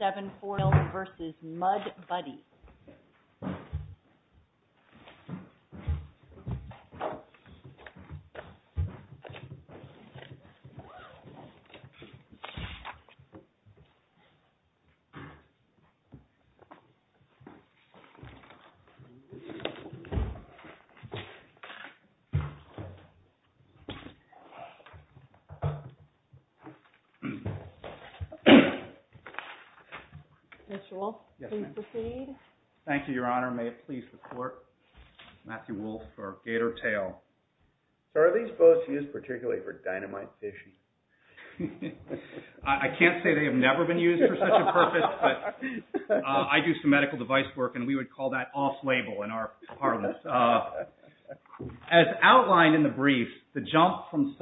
7-4-0 v. Mud Buddy Thank you, Your Honor. May it please the Court. Matthew Wolfe for Gator Tail. Are these both used particularly for dynamization? I can't say they have never been used for such a purpose, but I do some medical device work and we would call that off-label in our department. As outlined in the brief, the jump from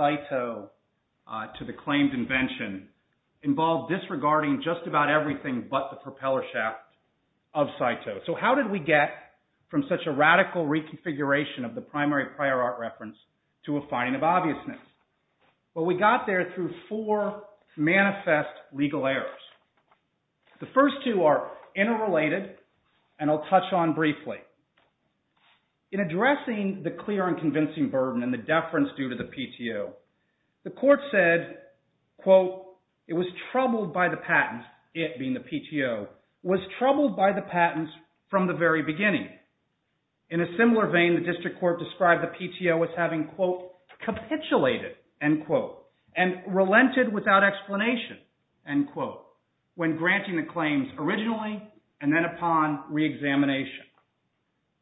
everything but the propeller shaft of SITO. So how did we get from such a radical reconfiguration of the primary prior art reference to a finding of obviousness? Well, we got there through four manifest legal errors. The first two are interrelated and I'll touch on briefly. In addressing the clear and convincing burden and the deference due to the PTO, the court said, quote, it was being the PTO, was troubled by the patents from the very beginning. In a similar vein, the district court described the PTO as having, quote, capitulated, end quote, and relented without explanation, end quote, when granting the claims originally and then upon re-examination.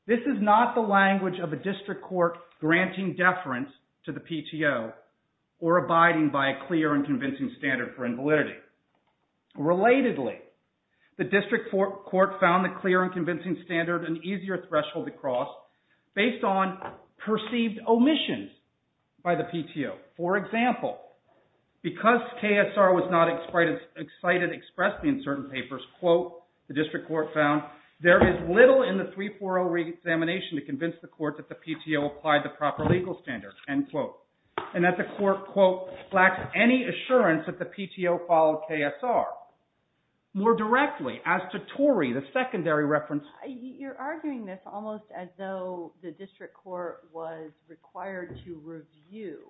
This is not the language of a district court granting deference to the PTO or abiding by a convincing standard for invalidity. Relatedly, the district court found the clear and convincing standard an easier threshold to cross based on perceived omissions by the PTO. For example, because KSR was not as excited expressly in certain papers, quote, the district court found, there is little in the 340 re-examination to convince the court that the PTO applied the proper legal standards, end quote, and that the court, quote, lacked any assurance that the PTO followed KSR. More directly, as to Torrey, the secondary reference. You're arguing this almost as though the district court was required to review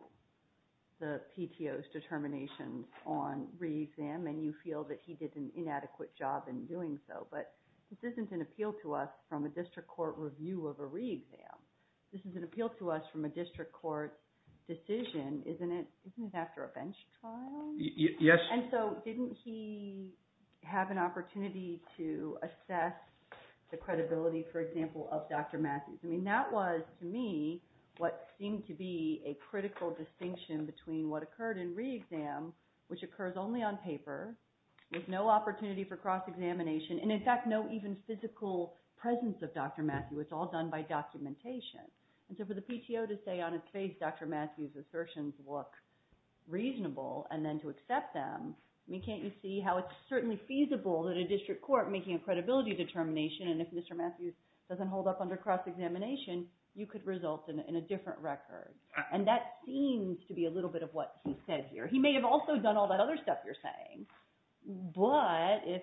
the PTO's determination on re-exam and you feel that he did an inadequate job in doing so, but this isn't an appeal to us from a district court review of a re-exam. This is an appeal to us from a district court decision, isn't it? Isn't it after a bench trial? Yes. And so didn't he have an opportunity to assess the credibility, for example, of Dr. Matthews? I mean that was, to me, what seemed to be a critical distinction between what occurred in re-exam, which occurs only on paper, with no opportunity for cross-examination, and in fact no even physical presence of Dr. Matthews. It's all done by documentation. And so for the PTO to say on its face, Dr. Matthews' assertions look reasonable, and then to accept them, I mean, can't you see how it's certainly feasible that a district court making a credibility determination, and if Mr. Matthews doesn't hold up under cross-examination, you could result in a different record. And that seems to be a little bit of what he said here. He may have also done all that other stuff you're saying, but if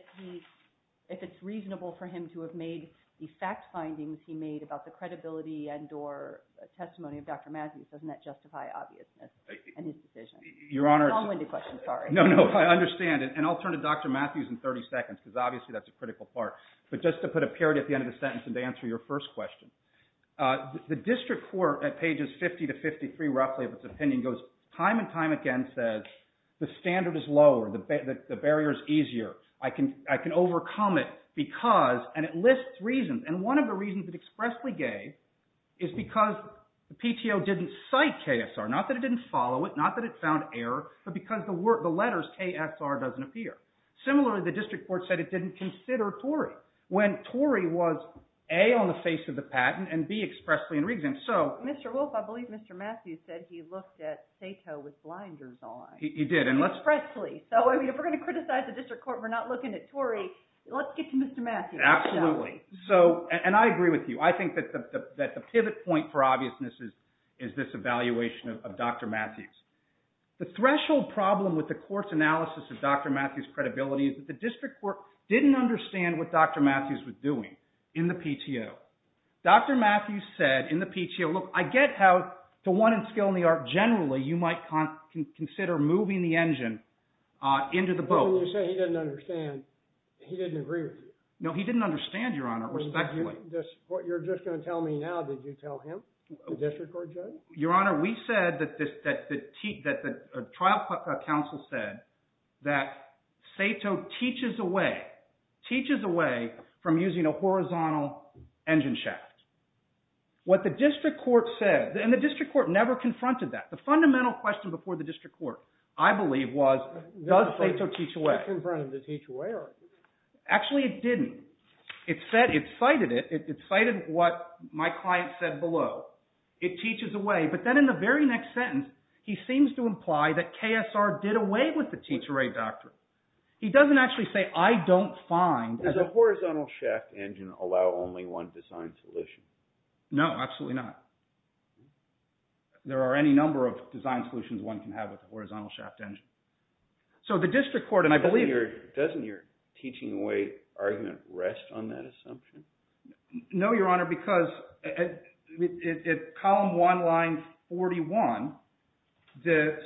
it's reasonable for him to have made the fact findings he made about the credibility and or testimony of Dr. Matthews, doesn't that justify obviousness in his decision? Your Honor, I understand, and I'll turn to Dr. Matthews in 30 seconds, because obviously that's a critical part, but just to put a period at the end of the sentence and to answer your first question. The district court at pages 50 to 53 roughly of its opinion goes, time and time again says, the standard is overcommit because, and it lists reasons, and one of the reasons it expressly gave is because the PTO didn't cite KSR, not that it didn't follow it, not that it found error, but because the letters KSR doesn't appear. Similarly, the district court said it didn't consider Torrey when Torrey was A, on the face of the patent, and B, expressly in re-examination. Mr. Wolf, I believe Mr. Matthews said he looked at Sato with blinders on. He did. Expressly. So if we're going to criticize the PTO, let's get to Mr. Matthews. Absolutely. So, and I agree with you. I think that the pivot point for obviousness is this evaluation of Dr. Matthews. The threshold problem with the court's analysis of Dr. Matthews' credibility is that the district court didn't understand what Dr. Matthews was doing in the PTO. Dr. Matthews said in the PTO, look, I get how, to one in skill and the art generally, you might consider moving the engine into the boat. So when you say he didn't understand, he didn't agree with you? No, he didn't understand, Your Honor. Respectfully. What you're just going to tell me now, did you tell him, the district court judge? Your Honor, we said that the trial counsel said that Sato teaches away, teaches away from using a horizontal engine shaft. What the district court said, and the district court never confronted that. The fundamental question before the district court, I believe was, does Sato teach away? Actually, it didn't. It said, it cited it, it cited what my client said below. It teaches away. But then in the very next sentence, he seems to imply that KSR did away with the teach away doctrine. He doesn't actually say, I don't find. Does a horizontal shaft engine allow only one design solution? No, absolutely not. There are any number of design solutions one can have with a horizontal shaft engine. So the district court, and I believe... Doesn't your teaching away argument rest on that assumption? No, Your Honor, because at column one, line 41,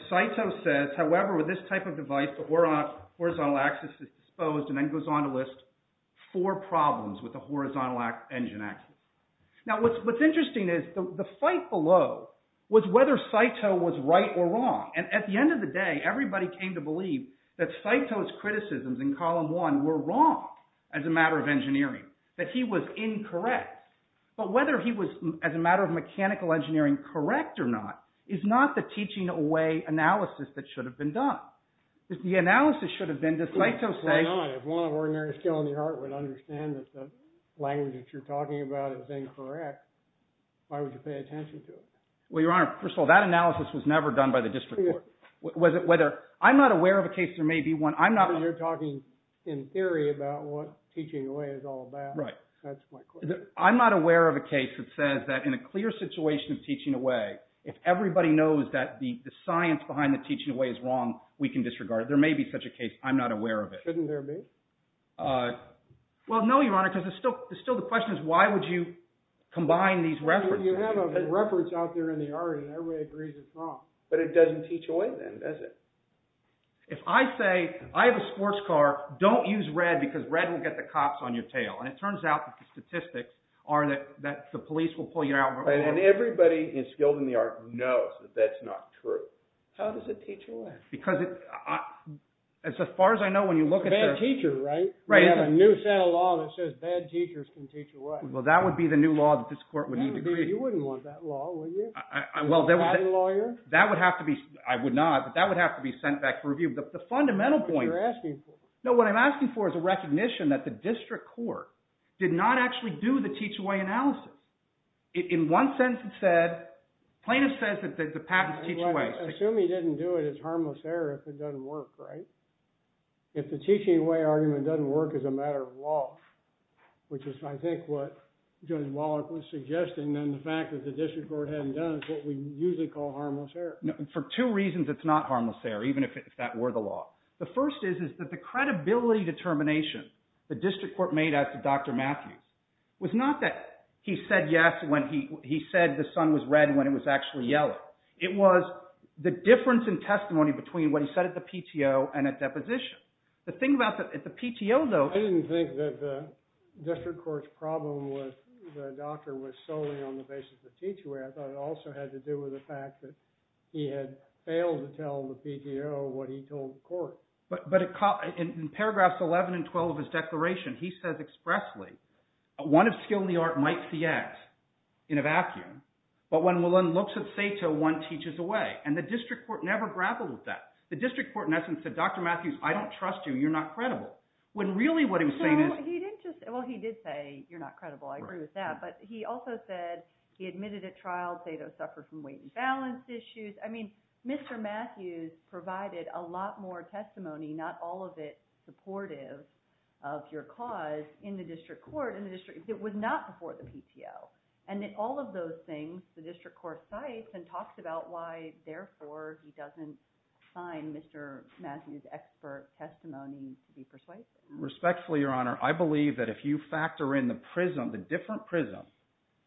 Sato says, however, with this type of device, the horizontal axis is disposed, and then goes on to list four problems with the horizontal engine axis. Now, what's interesting is, the fight below was whether Sato was right or wrong. And at the end of the day, everybody came to believe that Sato's criticisms in column one were wrong as a matter of engineering, that he was incorrect. But whether he was, as a matter of mechanical engineering, correct or not, is not the teaching away analysis that should have been done. The analysis should have been, does Sato say... If one of ordinary skill in the art would understand that the language that you're talking about is incorrect, why would you pay attention to it? Well, Your Honor, first of all, that analysis was never done by the district court. Was it whether... I'm not aware of a case there may be one... I'm not... You're talking in theory about what teaching away is all about. Right. That's my question. I'm not aware of a case that says that in a clear situation of teaching away, if everybody knows that the science behind the teaching away is wrong, we can disregard it. There may be such a case. I'm not aware of it. Shouldn't there be? Well, no, Your Honor, because it's still the question is why would you combine these references. You have a reference out there in the art and everybody agrees it's wrong. But it doesn't teach away then, does it? If I say, I have a sports car, don't use red because red will get the cops on your tail. And it turns out that the statistics are that the police will pull you out... Right. And everybody in skilled in the art knows that that's not true. How does it teach away? Because as far as I know, when you look at... Bad teacher, right? Right. We have a new set of law that says bad teachers can teach away. Well, that would be the new law that this court would need to create. You wouldn't want that law, would you? Well, that would have to be, I would not, but that would have to be sent back for review. But the fundamental point... That's what you're asking for. No, what I'm asking for is a recognition that the district court did not actually do the teach-away analysis. In one sentence it said, plaintiff says that the patent is teach-away. Assume he didn't do it, it's harmless error if it doesn't work, right? If the teach-away argument doesn't work as a matter of law, which is I think what Judge Wallach was suggesting, then the fact that the district court hadn't done it is what we usually call harmless error. For two reasons it's not harmless error, even if that were the law. The first is that the credibility determination the district court made as to Dr. Matthews was not that he said yes when he said the sun was red when it was actually yellow. It was the difference in testimony between what he said at the PTO and at deposition. The thing about the PTO, though... I didn't think that the district court's problem with the doctor was solely on the basis of teach-away. I thought it also had to do with the fact that he had failed to tell the PTO what he told the court. But in paragraphs 11 and 12 of his declaration, he says expressly, one of skill in the art might see X in a vacuum, but when one looks at SATO, one teaches away. And the district court never grappled with that. The district court in essence said, Dr. Matthews, I don't trust you. You're not credible. When really what he was saying is… So he didn't just – well, he did say you're not credible. I agree with that. But he also said he admitted at trial SATO suffered from weight and balance issues. I mean Mr. Matthews provided a lot more testimony, not all of it supportive of your cause in the district court. It was not before the PTO. And in all of those things, the district court cites and talks about why, therefore, he doesn't find Mr. Matthews' expert testimony to be persuasive. Respectfully, Your Honor, I believe that if you factor in the prism, the different prism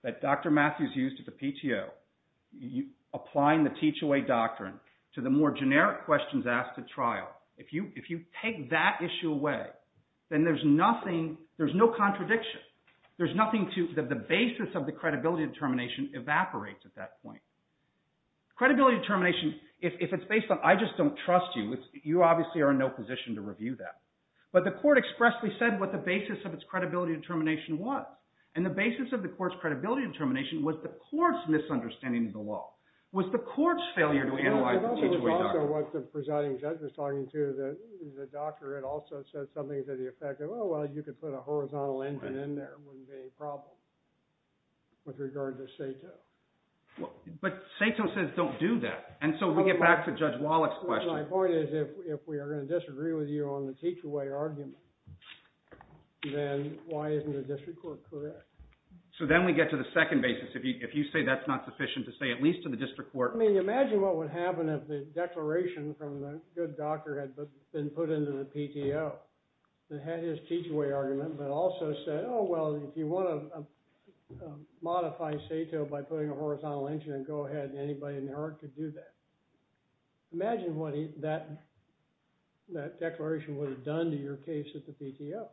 that Dr. Matthews used at the PTO, applying the teach-away doctrine to the more generic questions asked at trial, if you take that issue away, then there's nothing – there's no contradiction. There's nothing to – the basis of the credibility determination evaporates at that point. Credibility determination, if it's based on I just don't trust you, you obviously are in no position to review that. But the court expressly said what the basis of its credibility determination was, and the basis of the court's credibility determination was the court's misunderstanding of the law. It was the court's failure to analyze the teach-away doctrine. It also was what the presiding judge was talking to. The doctor had also said something to the effect of, oh, well, you could put a horizontal engine in there. It wouldn't be a problem with regard to SATO. But SATO says don't do that, and so we get back to Judge Wallach's question. My point is if we are going to disagree with you on the teach-away argument, then why isn't the district court correct? So then we get to the second basis. If you say that's not sufficient to say at least to the district court – Well, I mean, imagine what would happen if the declaration from the good doctor had been put into the PTO and had his teach-away argument, but also said, oh, well, if you want to modify SATO by putting a horizontal engine and go ahead, anybody in the court could do that. Imagine what that declaration would have done to your case at the PTO.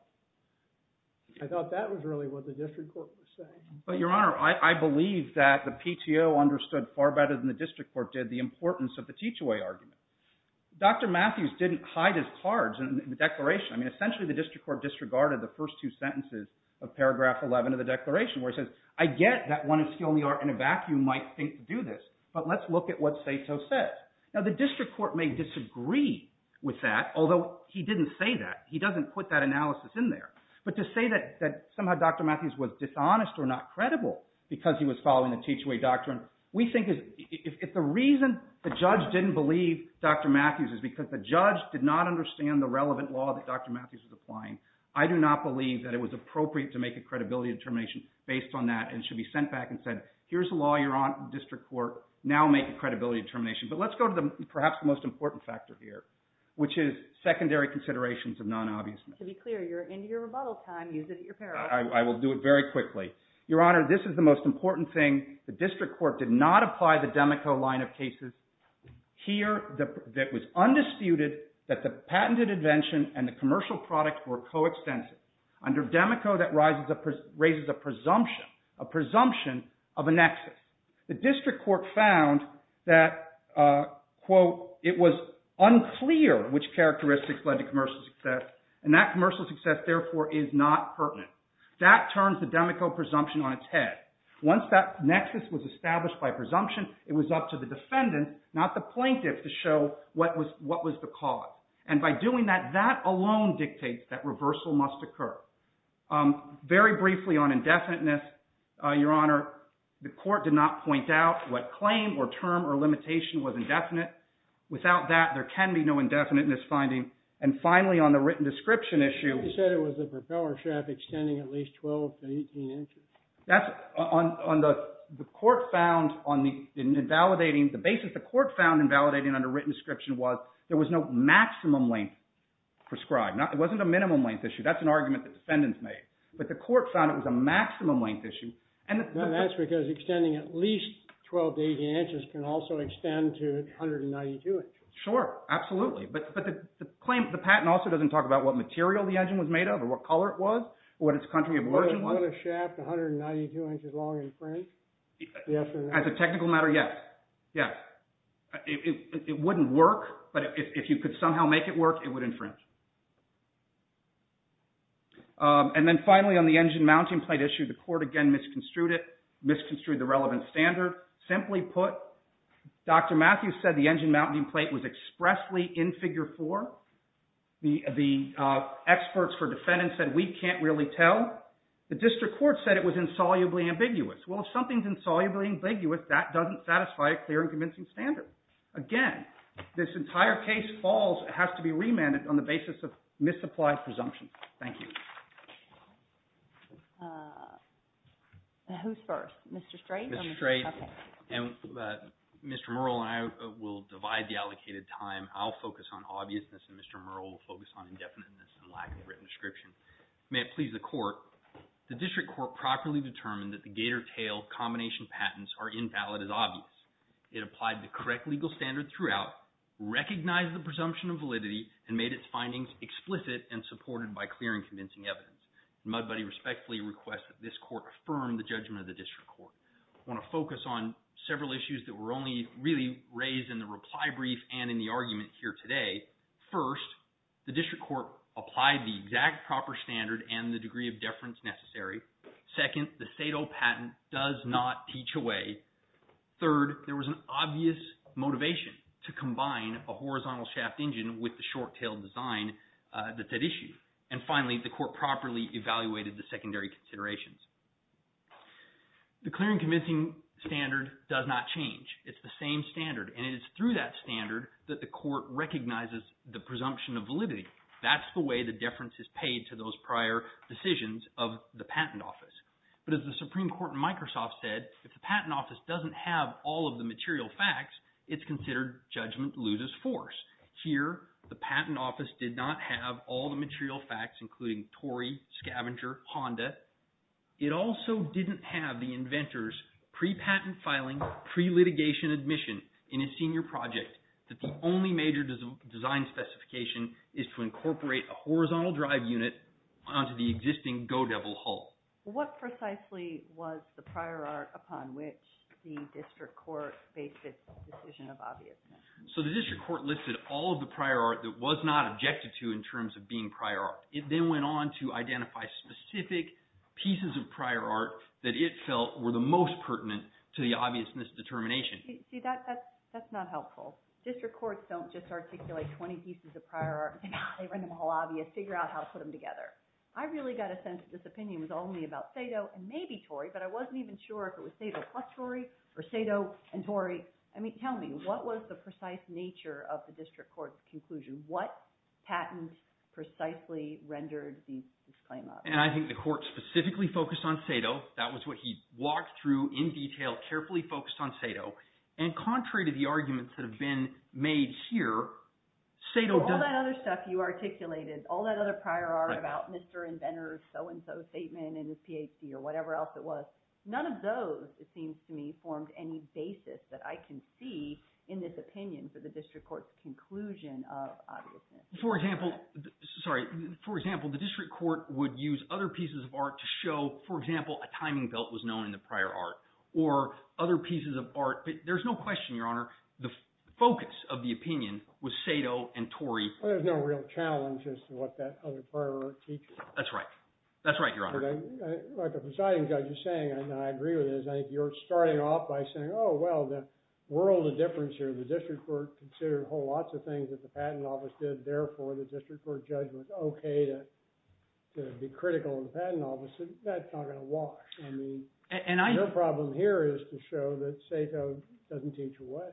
I thought that was really what the district court was saying. But, Your Honor, I believe that the PTO understood far better than the district court did the importance of the teach-away argument. Dr. Matthews didn't hide his cards in the declaration. I mean, essentially the district court disregarded the first two sentences of paragraph 11 of the declaration where he says, I get that one of you in the back might think to do this, but let's look at what SATO says. Now, the district court may disagree with that, although he didn't say that. He doesn't put that analysis in there. But to say that somehow Dr. Matthews was dishonest or not credible because he was following the teach-away doctrine, we think if the reason the judge didn't believe Dr. Matthews is because the judge did not understand the relevant law that Dr. Matthews was applying, I do not believe that it was appropriate to make a credibility determination based on that and should be sent back and said, here's the law you're on, district court, now make a credibility determination. But let's go to perhaps the most important factor here, which is secondary considerations of non-obviousness. To be clear, you're into your rebuttal time. Use it at your peril. I will do it very quickly. Your Honor, this is the most important thing. The district court did not apply the Demico line of cases. Here, it was undisputed that the patented invention and the commercial product were coextensive. Under Demico, that raises a presumption, a presumption of a nexus. The district court found that, quote, it was unclear which characteristics led to commercial success, and that commercial success, therefore, is not pertinent. That turns the Demico presumption on its head. Once that nexus was established by presumption, it was up to the defendant, not the plaintiff, to show what was the cause. And by doing that, that alone dictates that reversal must occur. Very briefly on indefiniteness, Your Honor, the court did not point out what claim or term or limitation was indefinite. Without that, there can be no indefiniteness finding. And finally, on the written description issue. You said it was a propeller shaft extending at least 12 to 18 inches. That's on the court found on the invalidating, the basis the court found invalidating on the written description was there was no maximum length prescribed. It wasn't a minimum length issue. That's an argument that defendants made. But the court found it was a maximum length issue. No, that's because extending at least 12 to 18 inches can also extend to 192 inches. Sure, absolutely. But the patent also doesn't talk about what material the engine was made of or what color it was or what its country of origin was. Would a shaft 192 inches long infringe? As a technical matter, yes. Yes. It wouldn't work, but if you could somehow make it work, it would infringe. And then finally, on the engine mounting plate issue, the court again misconstrued it, misconstrued the relevant standard. Simply put, Dr. Matthews said the engine mounting plate was expressly in Figure 4. The experts for defendants said we can't really tell. The district court said it was insolubly ambiguous. Well, if something is insolubly ambiguous, that doesn't satisfy a clear and convincing standard. Again, this entire case falls and has to be remanded on the basis of misapplied presumptions. Thank you. Who's first, Mr. Strait or Mr. Cuffley? Mr. Strait. Mr. Murrell and I will divide the allocated time. I'll focus on obviousness and Mr. Murrell will focus on indefiniteness and lack of written description. May it please the court. The district court properly determined that the gator tail combination patents are invalid as obvious. It applied the correct legal standard throughout, recognized the presumption of validity, and made its findings explicit and supported by clear and convincing evidence. Mudbody respectfully requests that this court affirm the judgment of the district court. I want to focus on several issues that were only really raised in the reply brief and in the argument here today. First, the district court applied the exact proper standard and the degree of deference necessary. Second, the Sado patent does not teach away. Third, there was an obvious motivation to combine a horizontal shaft engine with the short tail design that that issued. And finally, the court properly evaluated the secondary considerations. The clear and convincing standard does not change. It's the same standard, and it is through that standard that the court recognizes the presumption of validity. That's the way the deference is paid to those prior decisions of the patent office. But as the Supreme Court in Microsoft said, if the patent office doesn't have all of the material facts, it's considered judgment loses force. Here, the patent office did not have all the material facts, including Tory, Scavenger, Honda. It also didn't have the inventor's pre-patent filing, pre-litigation admission in a senior project that the only major design specification is to incorporate a horizontal drive unit onto the existing go-devil hull. What precisely was the prior art upon which the district court based its decision of obviousness? So the district court listed all of the prior art that was not objected to in terms of being prior art. It then went on to identify specific pieces of prior art that it felt were the most pertinent to the obviousness determination. See, that's not helpful. District courts don't just articulate 20 pieces of prior art and say, well, they're all obvious. Figure out how to put them together. I really got a sense that this opinion was only about Sato and maybe Tory, but I wasn't even sure if it was Sato plus Tory or Sato and Tory. I mean, tell me, what was the precise nature of the district court's conclusion? What patent precisely rendered this claim obvious? And I think the court specifically focused on Sato. That was what he walked through in detail, carefully focused on Sato. And contrary to the arguments that have been made here, Sato doesn't— all that other prior art about Mr. Inventor's so-and-so statement and his PhD or whatever else it was. None of those, it seems to me, formed any basis that I can see in this opinion for the district court's conclusion of obviousness. For example—sorry. For example, the district court would use other pieces of art to show, for example, a timing belt was known in the prior art or other pieces of art. But there's no question, Your Honor, the focus of the opinion was Sato and Tory. Well, there's no real challenge as to what that other prior art teaches. That's right. That's right, Your Honor. Like the presiding judge is saying, and I agree with this, I think you're starting off by saying, oh, well, the world of difference here. The district court considered whole lots of things that the patent office did. Therefore, the district court judge was okay to be critical of the patent office. That's not going to wash. I mean, the problem here is to show that Sato doesn't teach away.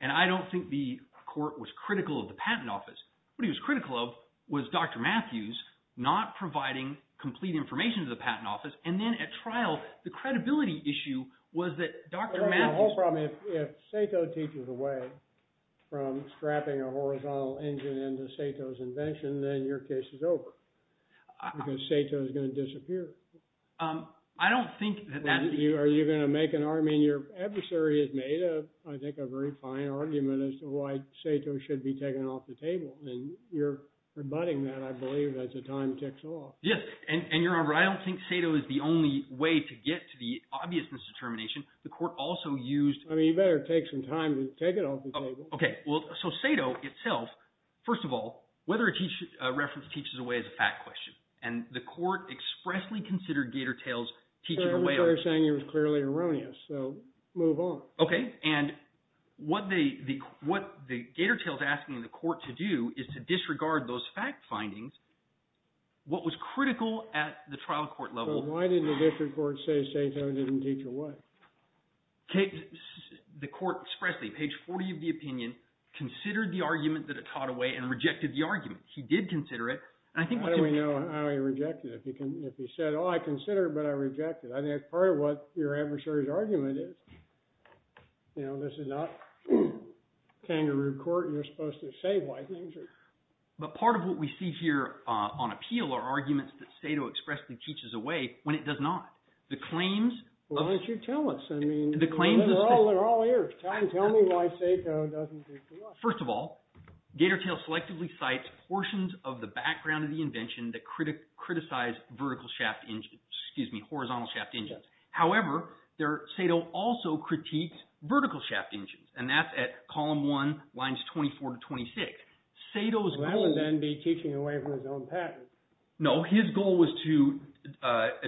And I don't think the court was critical of the patent office. What he was critical of was Dr. Matthews not providing complete information to the patent office. And then at trial, the credibility issue was that Dr. Matthews— The whole problem is if Sato teaches away from strapping a horizontal engine into Sato's invention, then your case is over because Sato is going to disappear. I don't think that that's— Are you going to make an—I mean, your adversary has made, I think, a very fine argument as to why Sato should be taken off the table. And you're rebutting that, I believe, as the time ticks off. Yes, and, Your Honor, I don't think Sato is the only way to get to the obviousness determination. The court also used— I mean, you better take some time to take it off the table. Okay, well, so Sato itself, first of all, whether a reference teaches away is a fact question. And the court expressly considered Gator Tales teaching away— They're saying it was clearly erroneous, so move on. Okay, and what the Gator Tales is asking the court to do is to disregard those fact findings. What was critical at the trial court level— So why did the district court say Sato didn't teach away? The court expressly, page 40 of the opinion, considered the argument that it taught away and rejected the argument. He did consider it, and I think what— How do we know how he rejected it? If he said, oh, I consider it, but I reject it. I think that's part of what your adversary's argument is. You know, this is not kangaroo court. You're supposed to say why things are— But part of what we see here on appeal are arguments that Sato expressly teaches away when it does not. The claims of— Why don't you tell us? I mean— The claims of— They're all here. Tell me why Sato doesn't teach away. First of all, Gator Tales selectively cites portions of the background of the invention that criticize vertical shaft engines— Excuse me, horizontal shaft engines. However, Sato also critiqued vertical shaft engines, and that's at column 1, lines 24 to 26. Sato's goal— Well, that would then be teaching away from his own patent. No, his goal was to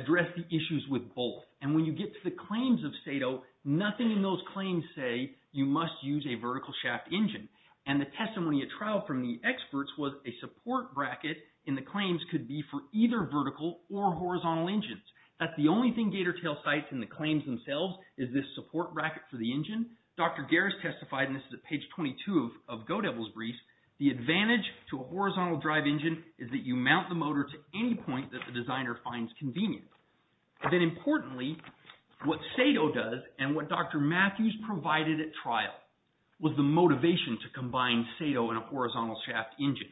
address the issues with both. And when you get to the claims of Sato, nothing in those claims say you must use a vertical shaft engine. And the testimony at trial from the experts was a support bracket in the claims could be for either vertical or horizontal engines. That's the only thing Gator Tales cites in the claims themselves is this support bracket for the engine. Dr. Gares testified, and this is at page 22 of Godevil's Brief, the advantage to a horizontal drive engine is that you mount the motor to any point that the designer finds convenient. But then importantly, what Sato does and what Dr. Matthews provided at trial was the motivation to combine Sato and a horizontal shaft engine.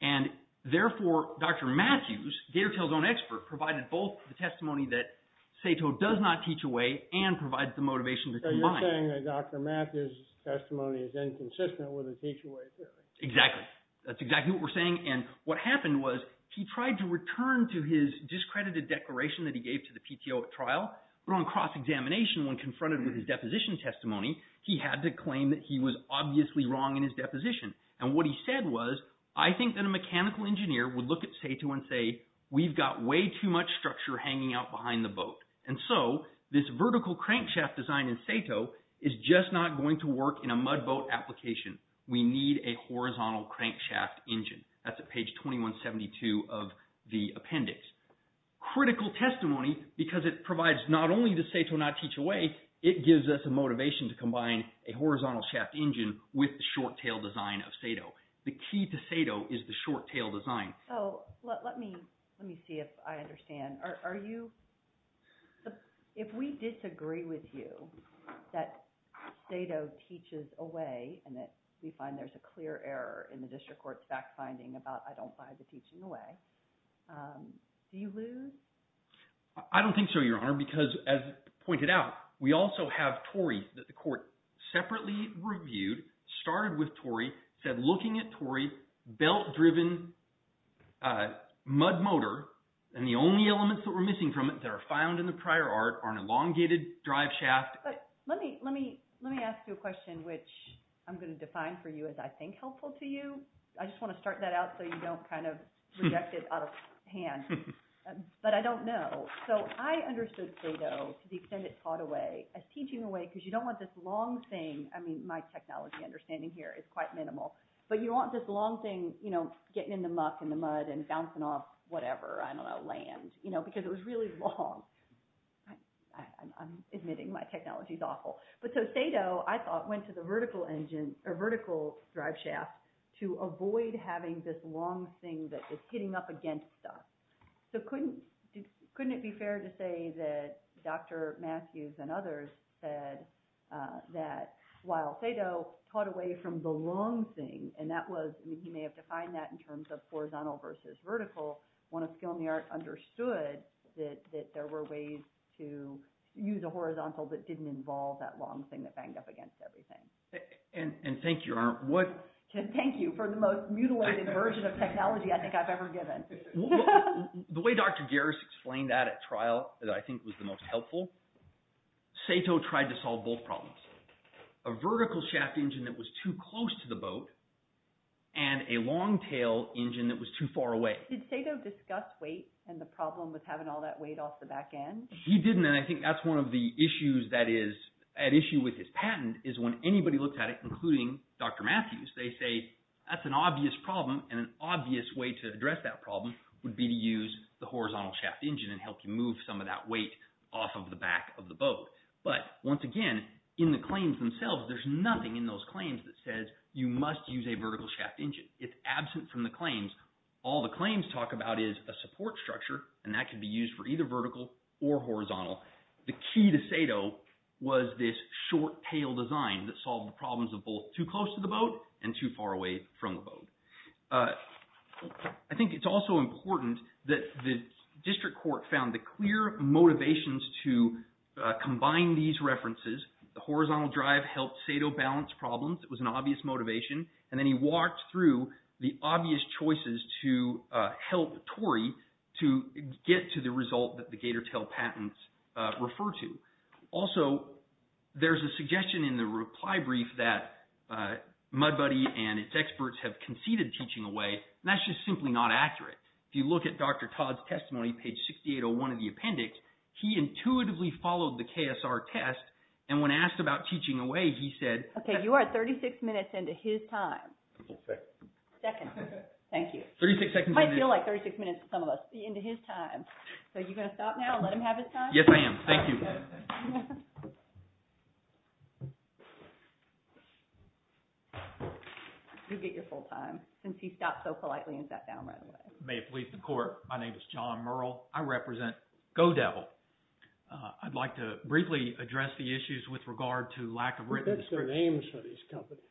And therefore, Dr. Matthews, Gator Tales' own expert, provided both the testimony that Sato does not teach away and provides the motivation to combine. So you're saying that Dr. Matthews' testimony is inconsistent with the teach away theory. Exactly. That's exactly what we're saying. And what happened was he tried to return to his discredited declaration that he gave to the PTO at trial. But on cross-examination, when confronted with his deposition testimony, he had to claim that he was obviously wrong in his deposition. And what he said was, I think that a mechanical engineer would look at Sato and say, we've got way too much structure hanging out behind the boat. And so this vertical crankshaft design in Sato is just not going to work in a mud boat application. We need a horizontal crankshaft engine. That's at page 2172 of the appendix. Critical testimony because it provides not only does Sato not teach away, it gives us a motivation to combine a horizontal shaft engine with the short-tail design of Sato. The key to Sato is the short-tail design. So let me see if I understand. Are you – if we disagree with you that Sato teaches away and that we find there's a clear error in the district court's fact-finding about I don't buy the teaching away, do you lose? I don't think so, Your Honor, because as pointed out, we also have Torrey that the court separately reviewed, started with Torrey, said looking at Torrey, belt-driven mud motor, and the only elements that we're missing from it that are found in the prior art are an elongated drive shaft. But let me ask you a question, which I'm going to define for you as I think helpful to you. I just want to start that out so you don't kind of reject it out of hand. But I don't know. So I understood Sato, to the extent it taught away, as teaching away because you don't want this long thing. I mean, my technology understanding here is quite minimal. But you want this long thing getting in the muck and the mud and bouncing off whatever, I don't know, land because it was really long. I'm admitting my technology's awful. But so Sato, I thought, went to the vertical engine – or vertical drive shaft to avoid having this long thing that is hitting up against stuff. So couldn't it be fair to say that Dr. Matthews and others said that while Sato taught away from the long thing, and that was – he may have defined that in terms of horizontal versus vertical, when a skill in the art understood that there were ways to use a horizontal that didn't involve that long thing that banged up against everything. And thank you. Thank you for the most mutilated version of technology I think I've ever given. The way Dr. Garris explained that at trial that I think was the most helpful, Sato tried to solve both problems, a vertical shaft engine that was too close to the boat and a long tail engine that was too far away. Did Sato discuss weight and the problem with having all that weight off the back end? He didn't, and I think that's one of the issues that is at issue with his patent is when anybody looks at it, including Dr. Matthews, they say that's an obvious problem, and an obvious way to address that problem would be to use the horizontal shaft engine and help you move some of that weight off of the back of the boat. But once again, in the claims themselves, there's nothing in those claims that says you must use a vertical shaft engine. It's absent from the claims. All the claims talk about is a support structure, and that can be used for either vertical or horizontal. The key to Sato was this short tail design that solved the problems of both too close to the boat and too far away from the boat. I think it's also important that the district court found the clear motivations to combine these references. The horizontal drive helped Sato balance problems. It was an obvious motivation, and then he walked through the obvious choices to help Torrey to get to the result that the gator tail patents refer to. Also, there's a suggestion in the reply brief that MudBuddy and its experts have conceded teaching away, and that's just simply not accurate. If you look at Dr. Todd's testimony, page 6801 of the appendix, he intuitively followed the KSR test, and when asked about teaching away, he said— Okay, you are 36 minutes into his time. Second. Second. Thank you. You might feel like 36 minutes to some of us into his time. Are you going to stop now and let him have his time? Yes, I am. Thank you. You get your full time since he stopped so politely and sat down right away. May it please the court, my name is John Murrell. I represent GoDevil. I'd like to briefly address the issues with regard to lack of written description. That's their names for these companies.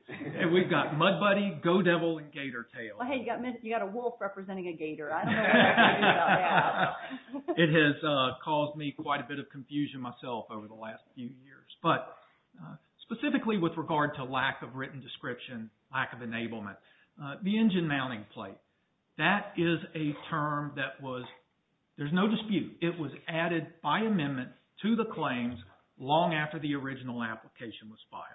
We've got MudBuddy, GoDevil, and Gator Tail. Well, hey, you've got a wolf representing a gator. I don't know what to do about that. It has caused me quite a bit of confusion myself over the last few years. But specifically with regard to lack of written description, lack of enablement, the engine mounting plate. That is a term that was—there's no dispute. It was added by amendment to the claims long after the original application was filed.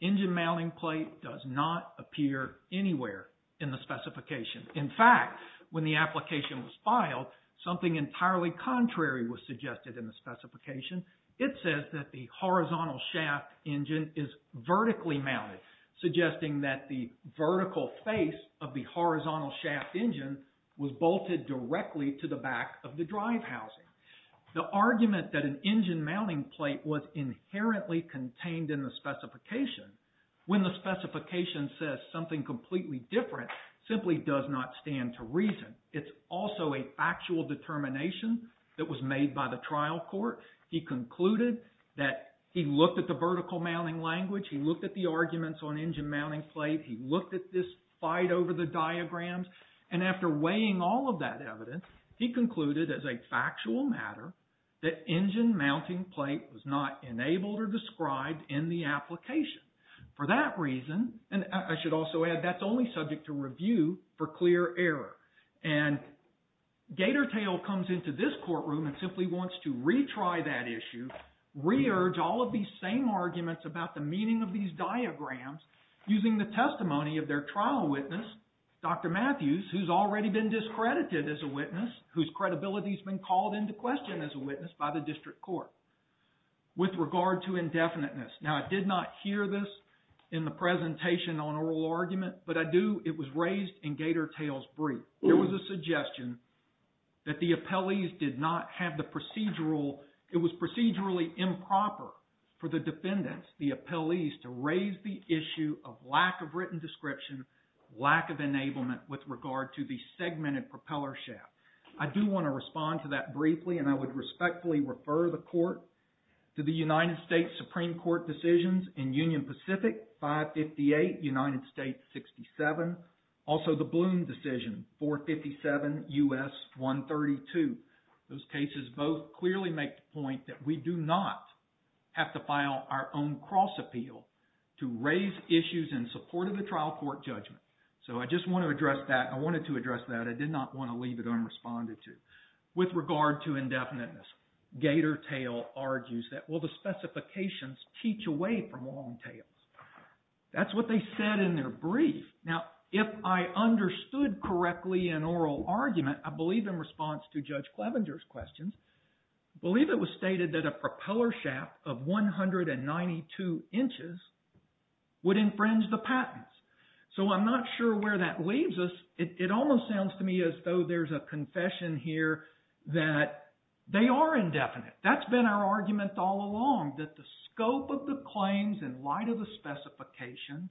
Engine mounting plate does not appear anywhere in the specification. In fact, when the application was filed, something entirely contrary was suggested in the specification. It says that the horizontal shaft engine is vertically mounted, suggesting that the vertical face of the horizontal shaft engine was bolted directly to the back of the drive housing. The argument that an engine mounting plate was inherently contained in the specification, when the specification says something completely different, simply does not stand to reason. It's also a factual determination that was made by the trial court. He concluded that he looked at the vertical mounting language. He looked at the arguments on engine mounting plate. He looked at this fight over the diagrams. And after weighing all of that evidence, he concluded as a factual matter that engine mounting plate was not enabled or described in the application. For that reason, and I should also add, that's only subject to review for clear error. And Gatortail comes into this courtroom and simply wants to retry that issue, re-urge all of these same arguments about the meaning of these diagrams using the testimony of their trial witness, Dr. Matthews, who's already been discredited as a witness, whose credibility has been called into question as a witness by the district court with regard to indefiniteness. Now, I did not hear this in the presentation on oral argument, but I do, it was raised in Gatortail's brief. There was a suggestion that the appellees did not have the procedural, it was procedurally improper for the defendants, the appellees, to raise the issue of lack of written description, lack of enablement with regard to the segmented propeller shaft. I do want to respond to that briefly and I would respectfully refer the court to the United States Supreme Court decisions in Union Pacific 558, United States 67, also the Bloom decision 457, U.S. 132. Those cases both clearly make the point that we do not have to file our own cross appeal to raise issues in support of the trial court judgment. So I just want to address that. I wanted to address that. I did not want to leave it unresponded to. With regard to indefiniteness, Gatortail argues that, well, the specifications teach away from long tails. That's what they said in their brief. Now, if I understood correctly in oral argument, I believe in response to Judge Clevenger's questions, I believe it was stated that a propeller shaft of 192 inches would infringe the patents. So I'm not sure where that leaves us. It almost sounds to me as though there's a confession here that they are indefinite. That's been our argument all along, that the scope of the claims in light of the specification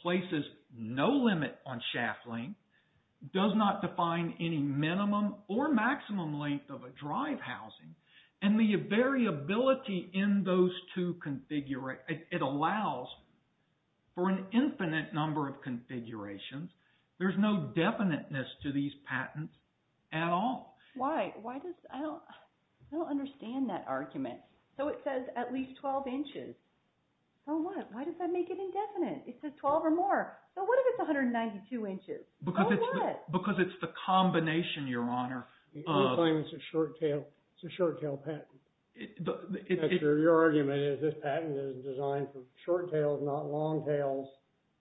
places no limit on shaft length, does not define any minimum or maximum length of a drive housing, and the variability in those two – it allows for an infinite number of configurations. There's no definiteness to these patents at all. Why? Why does – I don't understand that argument. So it says at least 12 inches. So what? Why does that make it indefinite? It says 12 or more. So what if it's 192 inches? So what? Because it's the combination, Your Honor, of – We claim it's a short tail patent. Your argument is this patent is designed for short tails, not long tails.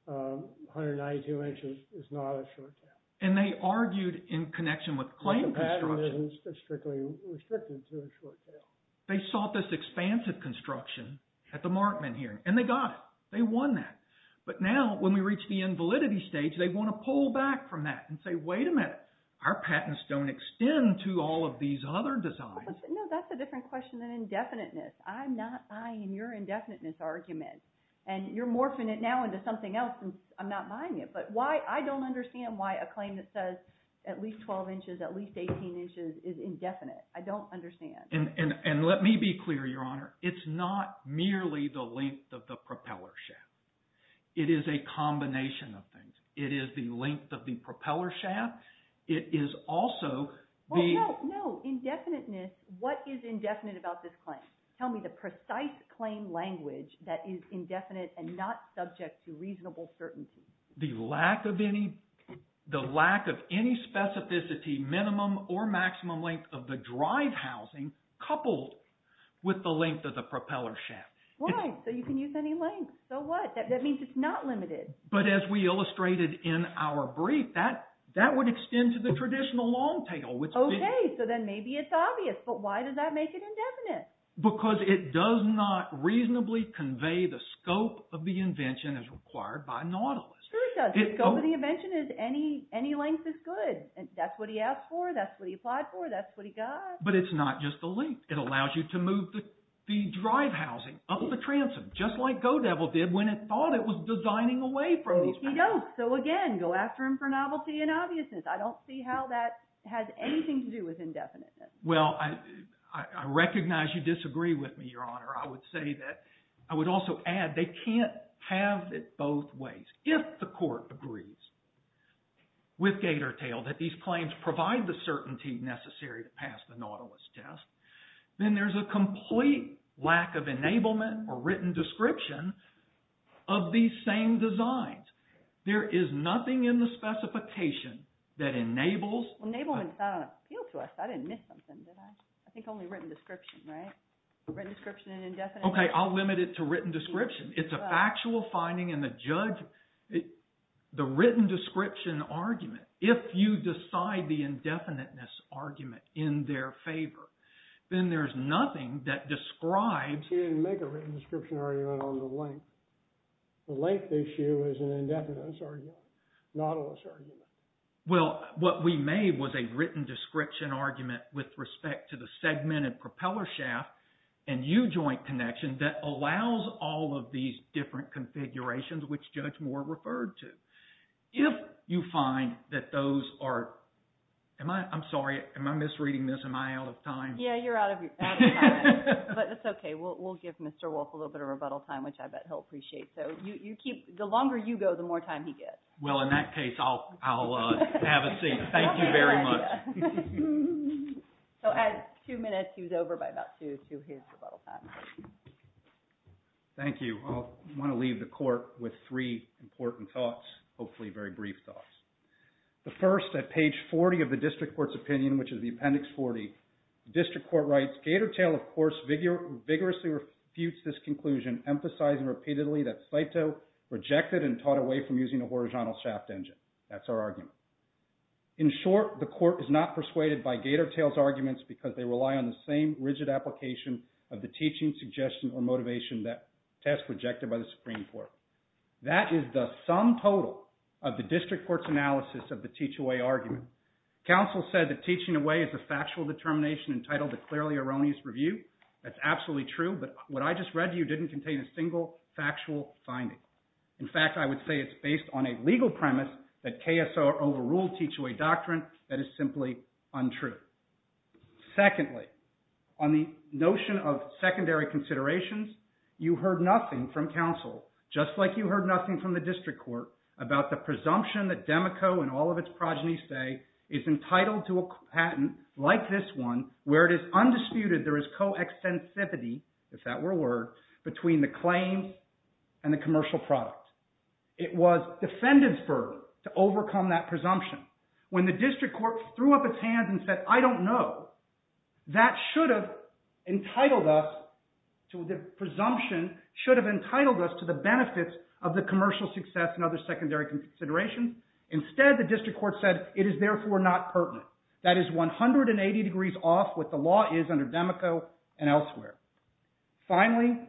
192 inches is not a short tail. And they argued in connection with claim construction. The patent is strictly restricted to a short tail. They sought this expansive construction at the Markman hearing, and they got it. They won that. But now when we reach the invalidity stage, they want to pull back from that and say, wait a minute, our patents don't extend to all of these other designs. No, that's a different question than indefiniteness. I'm not buying your indefiniteness argument. And you're morphing it now into something else, and I'm not buying it. But why – I don't understand why a claim that says at least 12 inches, at least 18 inches is indefinite. I don't understand. And let me be clear, Your Honor. It's not merely the length of the propeller shaft. It is a combination of things. It is the length of the propeller shaft. It is also the – No, no, no. Indefiniteness. What is indefinite about this claim? Tell me the precise claim language that is indefinite and not subject to reasonable certainty. The lack of any specificity, minimum or maximum length of the drive housing coupled with the length of the propeller shaft. Why? So you can use any length. So what? That means it's not limited. But as we illustrated in our brief, that would extend to the traditional long tail. Okay. So then maybe it's obvious. But why does that make it indefinite? Because it does not reasonably convey the scope of the invention as required by Nautilus. It does. The scope of the invention is any length is good. That's what he asked for. That's what he applied for. That's what he got. But it's not just the length. It allows you to move the drive housing up the transom, just like Godevil did when it thought it was designing a way from these – No, he don't. So again, go after him for novelty and obviousness. I don't see how that has anything to do with indefiniteness. Well, I recognize you disagree with me, Your Honor. I would say that – I would also add they can't have it both ways. If the court agrees with gator tail that these claims provide the certainty necessary to pass the Nautilus test, then there's a complete lack of enablement or written description of these same designs. There is nothing in the specification that enables – Enablement is not on appeal to us. I didn't miss something, did I? I think only written description, right? Written description and indefinite – Okay, I'll limit it to written description. It's a factual finding and the judge – the written description argument, if you decide the indefiniteness argument in their favor, then there's nothing that describes – He didn't make a written description argument on the length. The length issue is an indefiniteness argument, Nautilus argument. Well, what we made was a written description argument with respect to the segmented propeller shaft and U-joint connection that allows all of these different configurations, which Judge Moore referred to. If you find that those are – am I – I'm sorry. Am I misreading this? Am I out of time? Yeah, you're out of time. But that's okay. We'll give Mr. Wolfe a little bit of rebuttal time, which I bet he'll appreciate. So you keep – the longer you go, the more time he gets. Well, in that case, I'll have a seat. Thank you very much. So at two minutes, he was over by about two. So here's your rebuttal time. Thank you. I want to leave the court with three important thoughts, hopefully very brief thoughts. The first, at page 40 of the district court's opinion, which is the Appendix 40, the district court writes, Gatortail, of course, vigorously refutes this conclusion, emphasizing repeatedly that Saito rejected and taught away from using a horizontal shaft engine. That's our argument. In short, the court is not persuaded by Gatortail's arguments because they rely on the same rigid application of the teaching, suggestion, or motivation that test rejected by the Supreme Court. That is the sum total of the district court's analysis of the teach-away argument. Counsel said that teaching away is a factual determination entitled to clearly erroneous review. That's absolutely true, but what I just read to you didn't contain a single factual finding. In fact, I would say it's based on a legal premise that KSO overruled teach-away doctrine that is simply untrue. Secondly, on the notion of secondary considerations, you heard nothing from counsel, just like you heard nothing from the district court about the presumption that DEMICO and all of its progenies say is entitled to a patent like this one, where it is undisputed there is co-extensivity, if that were a word, between the claim and the commercial product. It was defendants' burden to overcome that presumption. When the district court threw up its hands and said, I don't know, that should have entitled us, the presumption should have entitled us to the benefits of the commercial success and other secondary considerations. Instead, the district court said it is therefore not pertinent. That is 180 degrees off what the law is under DEMICO and elsewhere. Finally,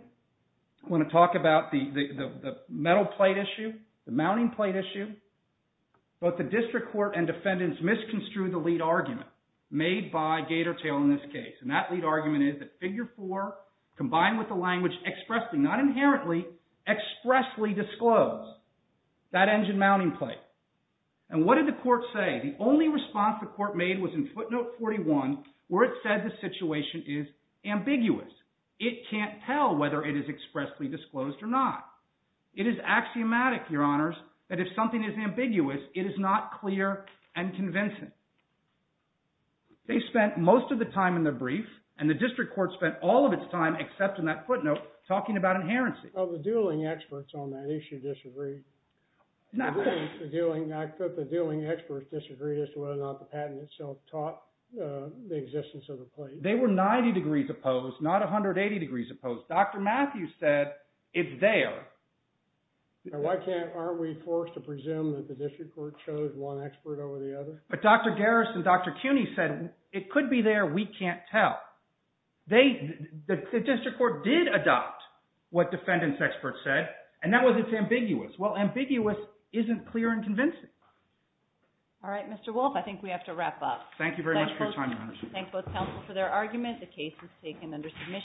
I want to talk about the metal plate issue, the mounting plate issue. Both the district court and defendants misconstrued the lead argument made by Gator Tail in this case. And that lead argument is that Figure 4 combined with the language expressly, not inherently, expressly disclosed that engine mounting plate. And what did the court say? The only response the court made was in footnote 41, where it said the situation is ambiguous. It can't tell whether it is expressly disclosed or not. It is axiomatic, your honors, that if something is ambiguous, it is not clear and convincing. They spent most of the time in the brief, and the district court spent all of its time, except in that footnote, talking about inherency. The dueling experts on that issue disagreed. The dueling experts disagreed as to whether or not the patent itself taught the existence of the plate. They were 90 degrees opposed, not 180 degrees opposed. Dr. Matthews said it is there. Why can't, aren't we forced to presume that the district court chose one expert over the other? But Dr. Garris and Dr. Cuny said it could be there, we can't tell. But the district court did adopt what defendants experts said, and that was it is ambiguous. Well, ambiguous isn't clear and convincing. All right, Mr. Wolfe, I think we have to wrap up. Thank you very much for your time, your honors. Thank both counsel for their argument. The case is taken under submission.